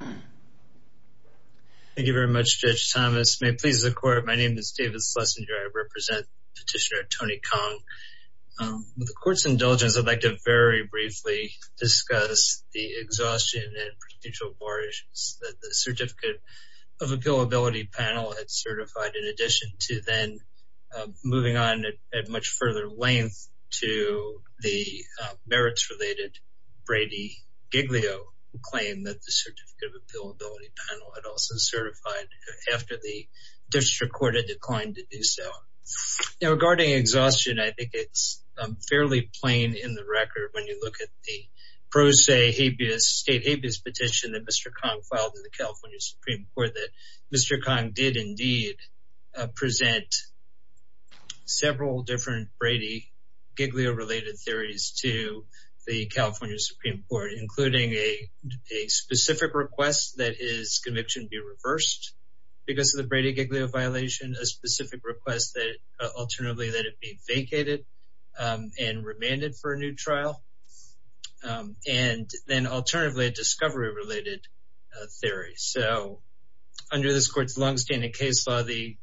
Thank you very much, Judge Thomas. May it please the Court, my name is David Schlesinger. I represent Petitioner Tony Khong. With the Court's indulgence, I'd like to very briefly discuss the exhaustion and prostitutial bar issues that the Certificate of Appealability panel had certified in addition to then moving on at much further length to the merits-related Brady-Giglio claim that the Certificate of Appealability panel had also certified after the District Court had declined to do so. Now regarding exhaustion, I think it's fairly plain in the record when you look at the pro se habeas, state habeas petition that Mr. Khong filed in the California Supreme Court that Mr. Khong did indeed present several different Brady-Giglio related theories to the California Supreme Court including a specific request that his conviction be reversed because of the Brady-Giglio violation, a specific request that alternatively that it be vacated and remanded for a new trial, and then alternatively a discovery-related theory. So under this Court's long-standing case law, the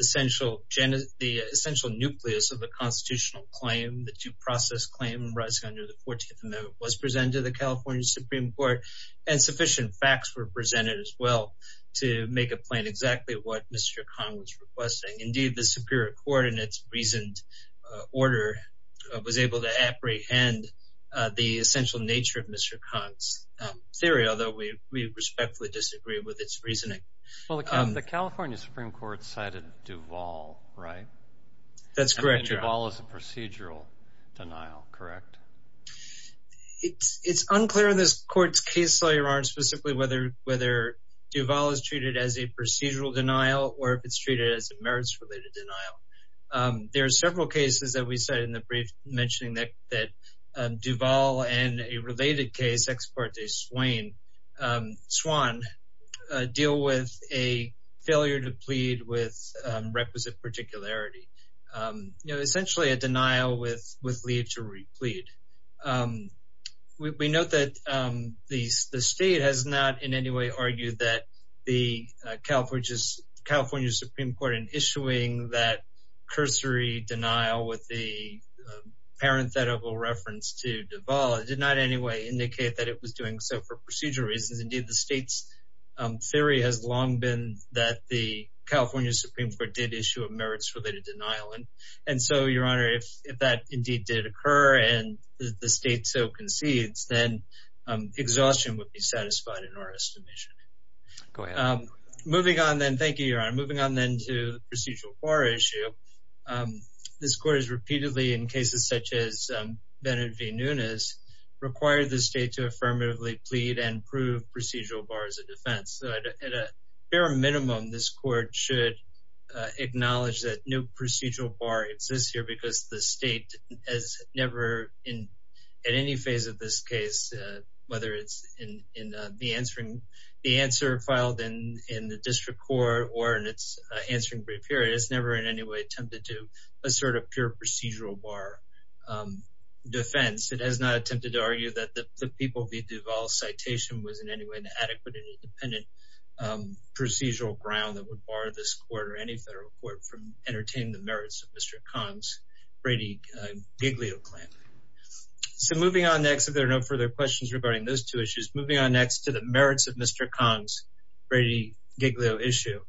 essential nucleus of the constitutional claim, the due process claim under the 14th Amendment was presented to the California Supreme Court and sufficient facts were presented as well to make a plan exactly what Mr. Khong was requesting. Indeed, the Superior Court in its reasoned order was able to apprehend the essential nature of Mr. Khong's theory, although we respectfully disagree with its reasoning. Well, the California Supreme Court cited Duval, right? That's a procedural denial, correct? It's unclear in this Court's case law, Your Honor, specifically whether Duval is treated as a procedural denial or if it's treated as a merits-related denial. There are several cases that we cite in the brief mentioning that Duval and a related case, Ex parte Swain, Swan, deal with a failure to plead with requisite particularity. You know, essentially a denial with leave to replead. We note that the state has not in any way argued that the California Supreme Court in issuing that cursory denial with the parenthetical reference to Duval did not in any way indicate that it was doing so for procedural reasons. Indeed, the state's theory has long been that the California Supreme Court did issue a merits-related denial, and so, Your Honor, if that indeed did occur and the state so concedes, then exhaustion would be satisfied in our estimation. Moving on then, thank you, Your Honor. Moving on then to the procedural bar issue, this Court has repeatedly, in cases such as Bennett v. Nunes, required the state to affirmatively plead and prove procedural bar as a defense. At a bare minimum, this Court should acknowledge that no procedural bar exists here because the state has never in any phase of this case, whether it's in the answer filed in the district court or in its answering brief period, it's never in any way attempted to assert a pure procedural bar defense. It has not citation was in any way an adequate and independent procedural ground that would bar this Court or any federal court from entertaining the merits of Mr. Kang's Brady-Giglio claim. So moving on next, if there are no further questions regarding those two issues, moving on next to the merits of Mr. Kang's Brady-Giglio issue.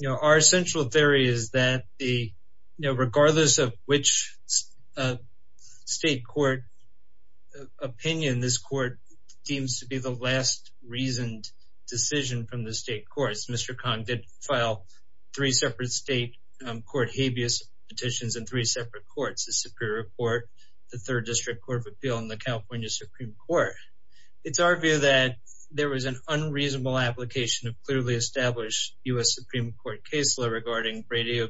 You know, our central theory is that the, you know, regardless of which state court opinion, this Court seems to be the last reasoned decision from the state courts. Mr. Kang did file three separate state court habeas petitions in three separate courts, the Superior Court, the Third District Court of Appeal, and the California Supreme Court. It's our view that there was an unreasonable application of clearly established U.S. Supreme Court case law regarding Brady-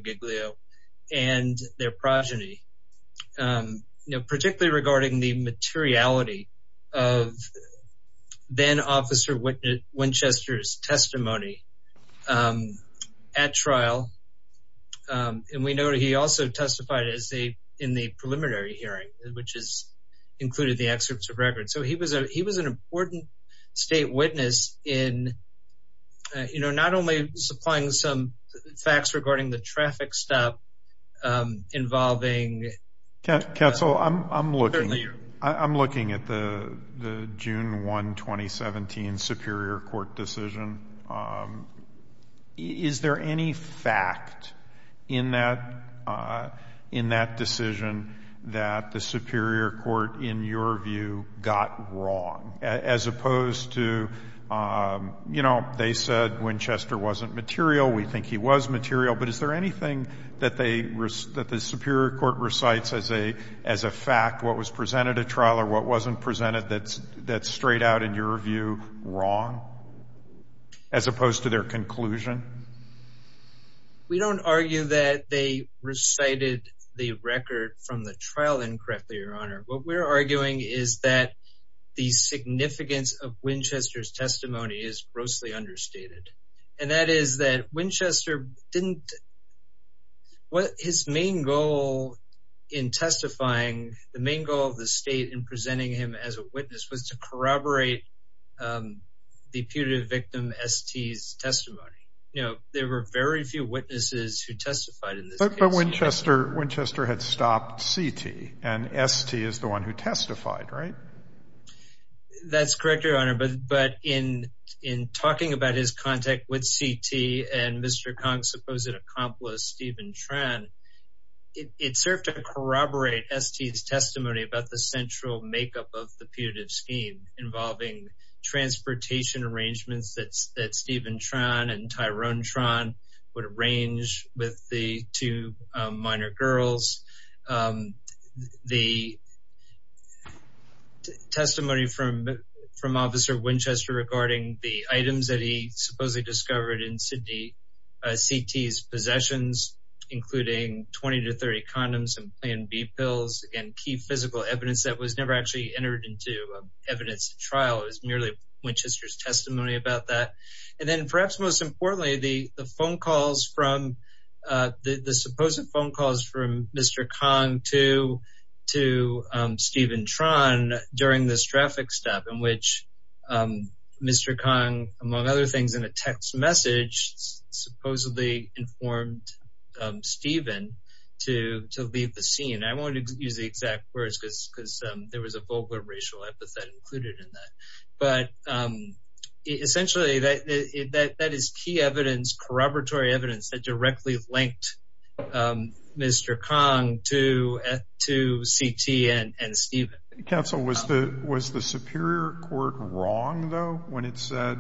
regarding the materiality of then-officer Winchester's testimony at trial. And we noted he also testified in the preliminary hearing, which has included the excerpts of records. So he was an important state witness in, you know, not only supplying some facts regarding the traffic stop involving- Counsel, I'm looking at the June 1, 2017 Superior Court decision. Is there any fact in that decision that the Superior Court, in your view, got wrong? As opposed to, you know, we think he was material, but is there anything that the Superior Court recites as a fact, what was presented at trial or what wasn't presented that's straight out, in your view, wrong? As opposed to their conclusion? We don't argue that they recited the record from the trial incorrectly, Your Honor. What we're arguing is that the significance of Winchester's testimony is grossly understated. And that is that Winchester didn't- his main goal in testifying, the main goal of the state in presenting him as a witness was to corroborate the putative victim, S.T.'s, testimony. You know, there were very few witnesses who testified in this case. But Winchester had stopped C.T., and S.T. is the one who testified, right? That's correct, Your Honor. But in talking about his contact with C.T. and Mr. Kong's supposed accomplice, Stephen Tran, it served to corroborate S.T.'s testimony about the central makeup of the putative scheme, involving transportation arrangements that Stephen Tran and Tyrone Tran would arrange with the two minor girls. The testimony from Officer Winchester regarding the items that he supposedly discovered in C.T.'s possessions, including 20 to 30 condoms and Plan B pills, and key physical evidence that was never actually entered into evidence at trial. It was merely Winchester's testimony about that. And the supposed phone calls from Mr. Kong to Stephen Tran during this traffic stop in which Mr. Kong, among other things, in a text message, supposedly informed Stephen to leave the scene. I won't use the exact words because there was a vulgar racial epithet included in that. But essentially, that is key evidence, corroboratory evidence that directly linked Mr. Kong to C.T. and Stephen. Counsel, was the Superior Court wrong, though, when it said,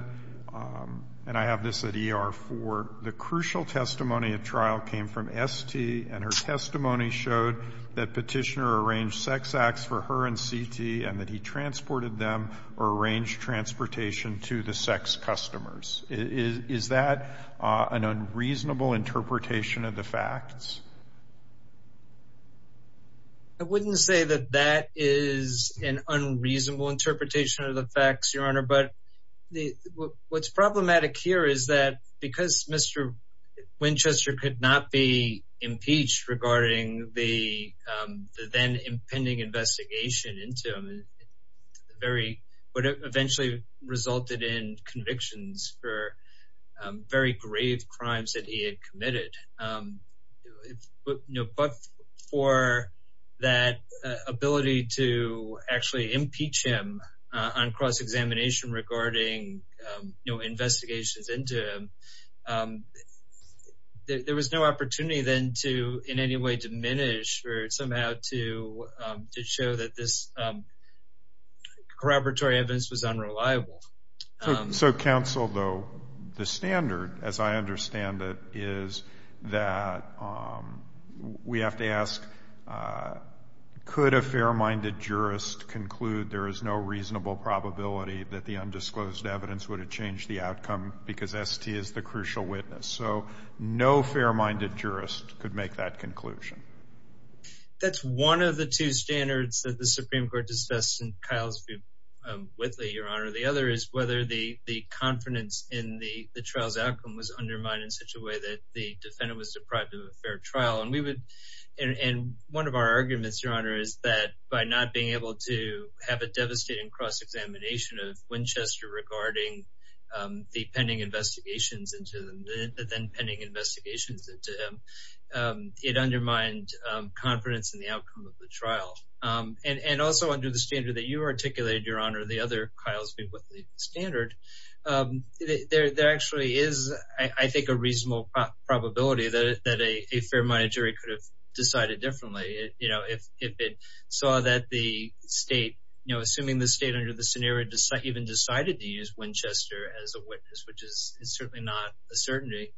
and I have this at E.R. 4, the crucial testimony at trial came from S.T. and her testimony showed that Petitioner arranged sex acts for her and C.T. and that he transported them or an unreasonable interpretation of the facts? I wouldn't say that that is an unreasonable interpretation of the facts, Your Honor, but what's problematic here is that because Mr. Winchester could not be impeached regarding the then impending investigation into him, what eventually resulted in convictions for very grave crimes that he had committed. But for that ability to actually impeach him on cross-examination regarding investigations into him, there was no opportunity then to in any way diminish or somehow to show that this corroboratory evidence was unreliable. So, Counsel, though, the standard, as I understand it, is that we have to ask, could a fair-minded jurist conclude there is no reasonable probability that the undisclosed evidence would have changed the outcome because S.T. is the crucial witness? So, no fair-minded jurist could make that conclusion. That's one of the two standards that the Supreme Court discussed in Kyle's view with Lee, Your Honor. The other is whether the confidence in the trial's outcome was undermined in such a way that the defendant was deprived of a fair trial. And one of our arguments, Your Honor, is that by not being able to have a devastating cross-examination of Winchester regarding the pending investigations into him, it undermined confidence in the outcome of the trial. And also under the standard that you articulated, Your Honor, the other Kyle's view with the standard, there actually is, I think, a reasonable probability that a fair-minded jury could have decided differently if it saw that the state, assuming the state under the scenario even decided to use Winchester as a witness, which is certainly not a certainty,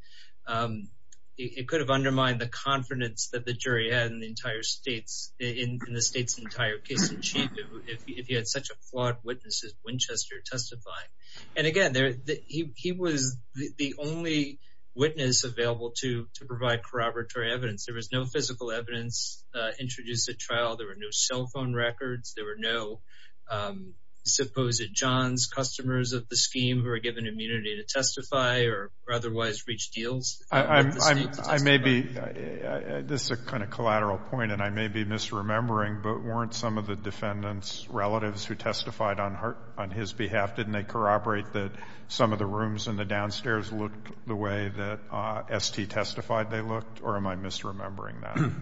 it could have undermined the confidence that the jury had in the entire state's, in the state's entire case in chief if he had such a flawed witness as Winchester testifying. And again, he was the only witness available to provide corroboratory evidence. There was no physical evidence introduced at trial. There were no cell phone records. There were no supposed John's customers of the scheme who were given immunity to testify or otherwise reach deals. I may be, this is a kind of collateral point, and I may be misremembering, but weren't some of the defendant's relatives who testified on his behalf, didn't they corroborate that some of the rooms in the downstairs looked the way that S.T. testified they looked? Or am I misremembering that?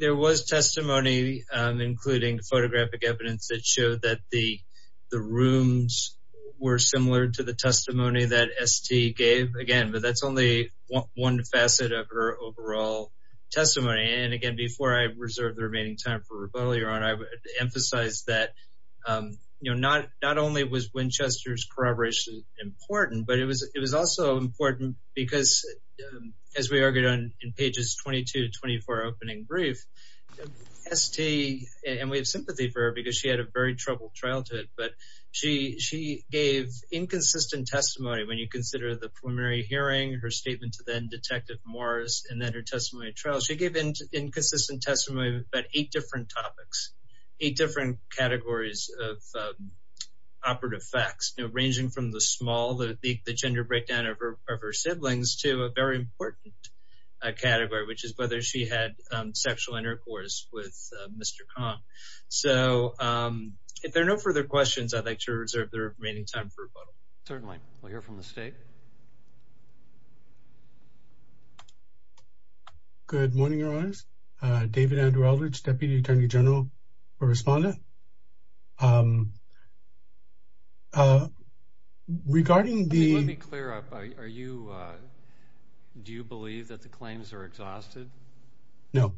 There was testimony, including photographic evidence that showed that the rooms were similar to the testimony that S.T. gave again, but that's only one facet of her overall testimony. And again, before I reserve the remaining time for rebuttal, your honor, I would emphasize that, you know, not, not only was Winchester's corroboration important, but it was, it was also important because as we argued on in pages 22 to 24 opening brief, S.T., and we have sympathy for her because she had a very troubled childhood, but she, she gave inconsistent testimony when you consider the preliminary hearing, her statement to then Detective Morris, and then her testimony at trial. She gave inconsistent testimony about eight different topics, eight different categories of operative facts, you know, ranging from the small, the, the, the gender breakdown of her, of her siblings to a very important category, which is whether she had sexual intercourse with Mr. Kong. So if there are no further questions, I'd like to reserve the remaining time for rebuttal. Certainly. We'll hear from the state. Good morning, your honors. David Andrew Eldridge, Deputy Attorney General for Respondent. Regarding the... Let me clear up, are you, do you believe that the claims are exhausted? No.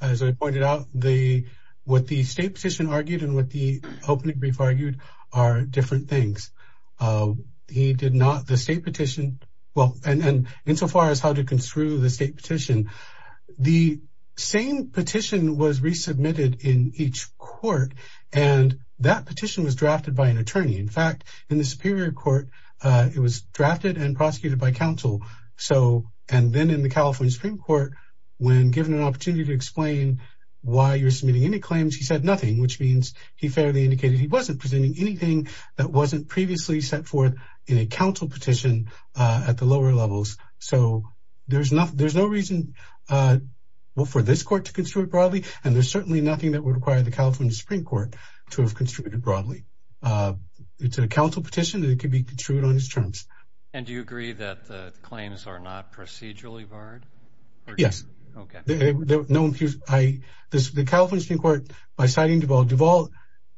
As I pointed out, the, what the state petition argued and what the opening brief argued are different things. He did not, the state petition, well, and, and insofar as how to construe the state petition, the same petition was resubmitted in each court, and that petition was drafted by an attorney. In fact, in the Superior Court, it was drafted and prosecuted by counsel. So, and then in the California Supreme Court, when given an opportunity to explain why you're submitting any claims, he said nothing, which means he fairly indicated he wasn't presenting anything that wasn't previously set forth in a counsel petition at the lower levels. So, there's no, there's no reason for this court to construe it broadly, and there's certainly nothing that would require the California Supreme Court to have construed it broadly. It's a counsel petition, and it can be construed on its terms. And do you agree that the claims are not procedurally barred? Yes. Okay. No, I, the California Supreme Court, by citing Duvall, Duvall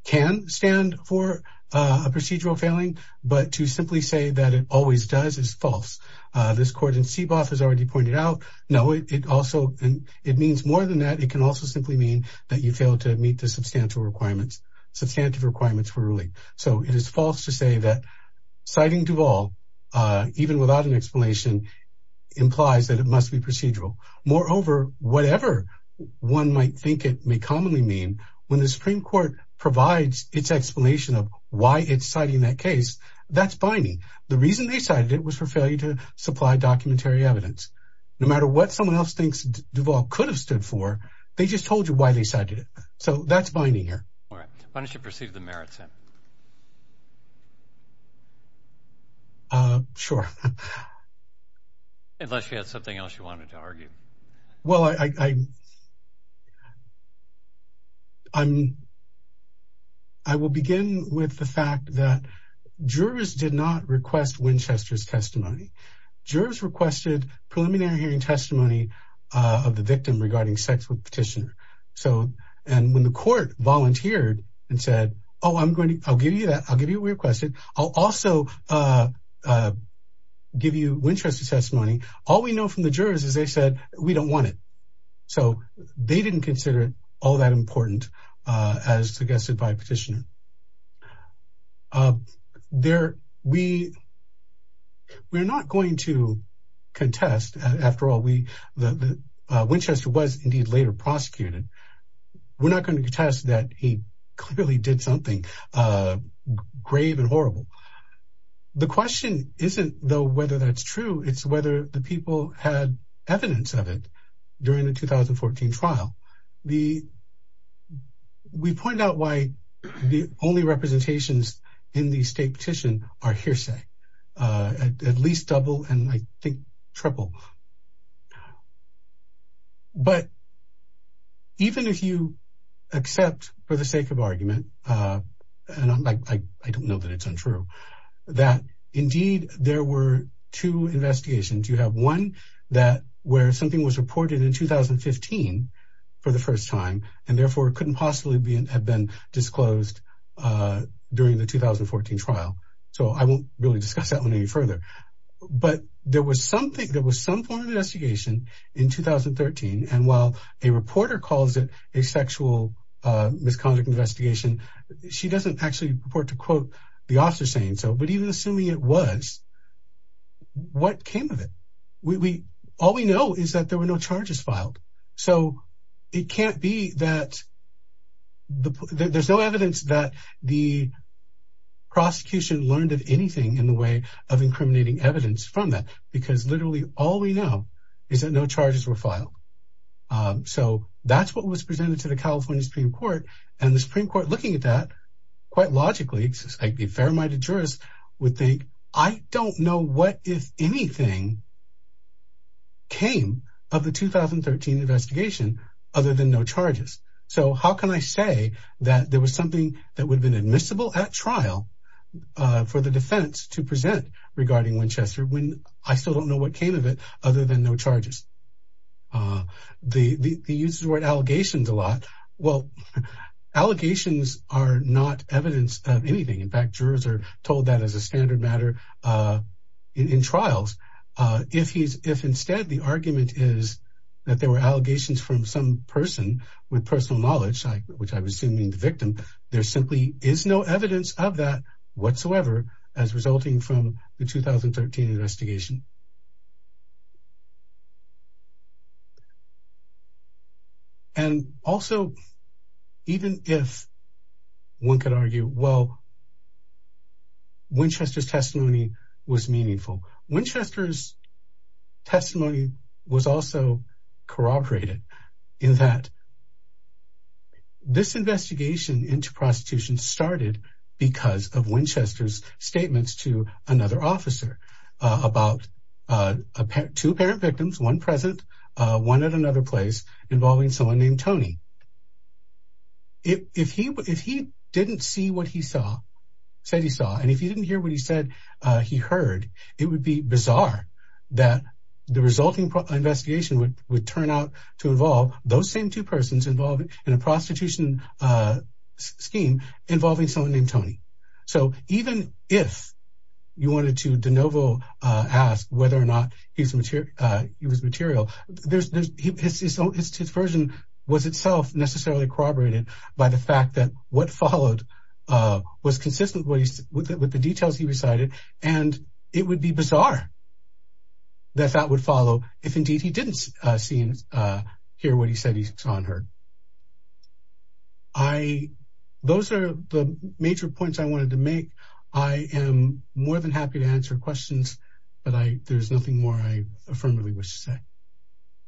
can stand for a procedural failing, but to simply say that it always does is false. This court in CBOF has already pointed out, no, it also, it means more than that. It can also simply mean that you fail to meet the substantial requirements, substantive requirements for ruling. So, it is false to say that citing Duvall, even without an explanation, implies that it must be procedural. Moreover, whatever one might think it may commonly mean, when the Supreme Court provides its explanation of why it's citing that case, that's binding. The reason they cited it was for failure to supply documentary evidence. No matter what someone else thinks Duvall could have stood for, they just told you why they cited it. So, that's binding here. All right. Why don't you proceed to the merits, then? Sure. Unless you had something else you wanted to argue. Well, I will begin with the fact that jurors did not request Winchester's testimony. Jurors requested preliminary hearing testimony of the victim regarding sex with petitioner. So, and when the court volunteered and said, oh, I'm going to, I'll give you that, I'll give you what we requested. I'll also give you Winchester's testimony. All we know from the jurors is they said, we don't want it. So, they didn't consider it all that important as suggested by petitioner. We're not going to contest, after all, Winchester was indeed later prosecuted. We're not going to contest that he clearly did something grave and horrible. The question isn't, though, whether that's true, it's whether the people had evidence of it during the 2014 trial. The, we point out why the only representations in the state petition are hearsay, at least double and I think triple. But even if you accept for the sake of argument, and I don't know that it's true, that indeed there were two investigations. You have one that where something was reported in 2015 for the first time, and therefore it couldn't possibly be, have been disclosed during the 2014 trial. So, I won't really discuss that one any further, but there was something, there was some form of investigation in 2013. And while a reporter calls it a sexual misconduct investigation, she doesn't actually purport to quote the officer saying so, but even assuming it was, what came of it, we, all we know is that there were no charges filed. So it can't be that there's no evidence that the prosecution learned of anything in the way of incriminating evidence from that, because literally all we know is that no charges were filed. So that's what was presented to the California Supreme Court and the Supreme Court, quite logically, a fair-minded jurist would think, I don't know what, if anything, came of the 2013 investigation other than no charges. So how can I say that there was something that would have been admissible at trial for the defense to present regarding Winchester when I still don't know what came of it other than no charges? They use the word allegations a lot. Well, allegations are not evidence of anything. In fact, jurors are told that as a standard matter in trials. If he's, if instead the argument is that there were allegations from some person with personal knowledge, which I was assuming the victim, there simply is no evidence of that whatsoever as resulting from the 2013 investigation. And also, even if one could argue, well, Winchester's testimony was meaningful. Winchester's testimony was also corroborated in that this investigation into prostitution started because of Winchester's statements to another officer about two apparent victims, one present, one at another place involving someone named Tony. If he didn't see what he saw, said he saw, and if he didn't hear what he said he heard, it would be bizarre that the resulting investigation would turn out to involve those same two persons involved in a prostitution scheme involving someone named Tony. So even if you wanted to de novo ask whether or not he was material, his version was itself necessarily corroborated by the fact that what followed was consistent with the details he recited, and it would be bizarre that that would follow if indeed he didn't see and hear what he said he saw and heard. So I, those are the major points I wanted to make. I am more than happy to answer questions, but there's nothing more I affirmatively wish to say.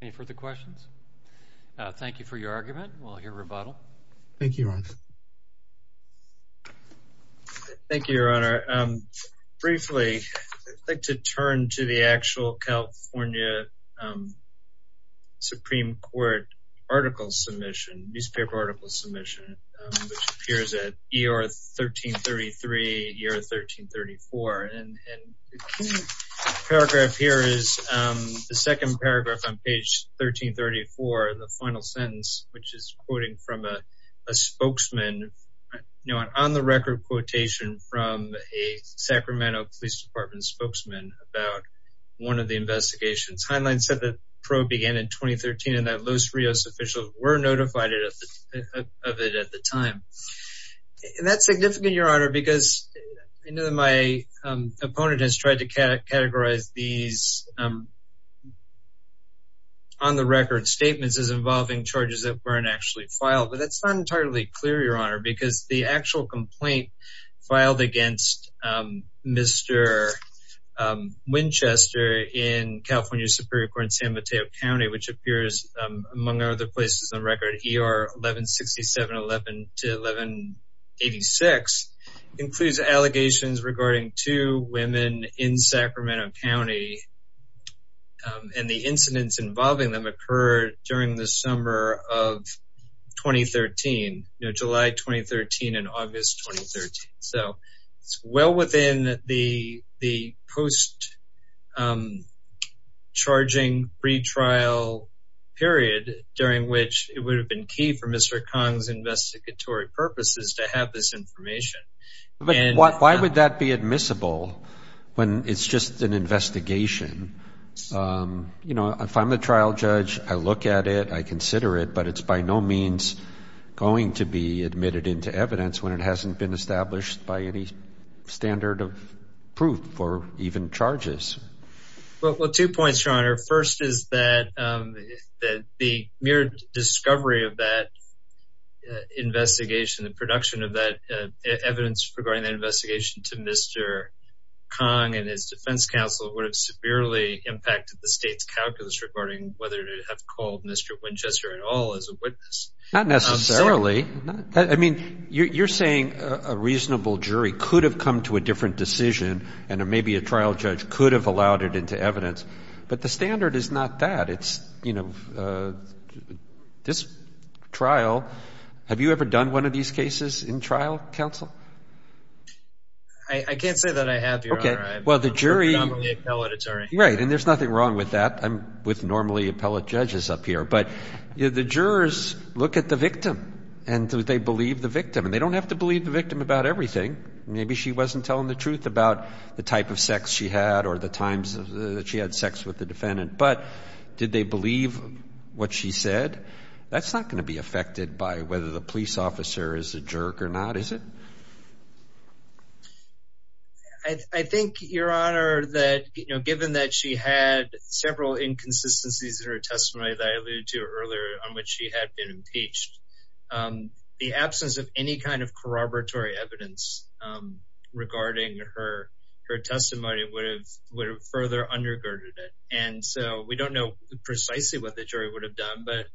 Any further questions? Thank you for your argument. We'll hear a rebuttal. Thank you, Your Honor. Thank you, Your Honor. Briefly, I'd like to turn to the actual California Supreme Court article submission, newspaper article submission, which appears at ER 1333, ER 1334. And the paragraph here is the second paragraph on page 1334, the final sentence, which is quoting from a spokesman, you know, an on the record quotation from a Sacramento Police Department spokesman about one of the investigations. Heinlein said the probe began in 2013 and that Los Rios officials were notified of it at the time. And that's significant, Your Honor, because I know that my opponent has tried to categorize these on the record statements as involving charges that weren't actually filed, but that's not entirely clear, Your Honor, because the actual complaint filed against Mr. Winchester in California Superior Court in San Mateo County, which appears among other places on record, ER 1167 to 1186, includes allegations regarding two women in Sacramento County and the incidents involving them occurred during the July 2013 and August 2013. So it's well within the post-charging retrial period during which it would have been key for Mr. Kang's investigatory purposes to have this information. But why would that be admissible when it's just an investigation? You know, if I'm the trial judge, I look at it, I consider it, but it's by no means going to be admitted into evidence when it hasn't been established by any standard of proof or even charges. Well, two points, Your Honor. First is that the mere discovery of that investigation, the production of that evidence regarding the investigation to Mr. Kang and his defense counsel would have severely impacted the state's calculus regarding whether to have called Mr. Winchester at all as a witness. Not necessarily. I mean, you're saying a reasonable jury could have come to a different decision and maybe a trial judge could have allowed it into evidence. But the standard is not that. It's, you know, this trial, have you ever done one of these cases in trial, counsel? I can't say that I have, Your Honor. Okay. Well, the jury... I'm a normally appellate attorney. Right. And there's nothing wrong with that. I'm with normally appellate judges up here. But the jurors look at the victim and do they believe the victim? And they don't have to believe the victim about everything. Maybe she wasn't telling the truth about the type of sex she had or the times that she had sex with the defendant. But did they believe what she said? That's not going to be affected by whether the police officer is a jerk or not, is it? I think, Your Honor, that, you know, given that she had several inconsistencies in her testimony that I alluded to earlier on which she had been impeached, the absence of any kind of corroboratory evidence regarding her testimony would have further undergirded it. And so we don't know precisely what the jury would have done, but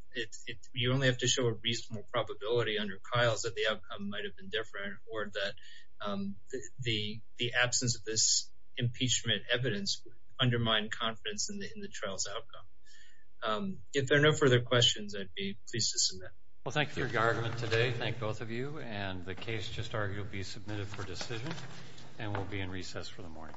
you only have to show a reasonable probability under Kyle's that the outcome might have been different or that the absence of this impeachment evidence undermined confidence in the trial's outcome. If there are no further questions, I'd be pleased to submit. Well, thank you for your argument today. Thank both of you. And the case just argued will be submitted for decision and will be in recess for the morning.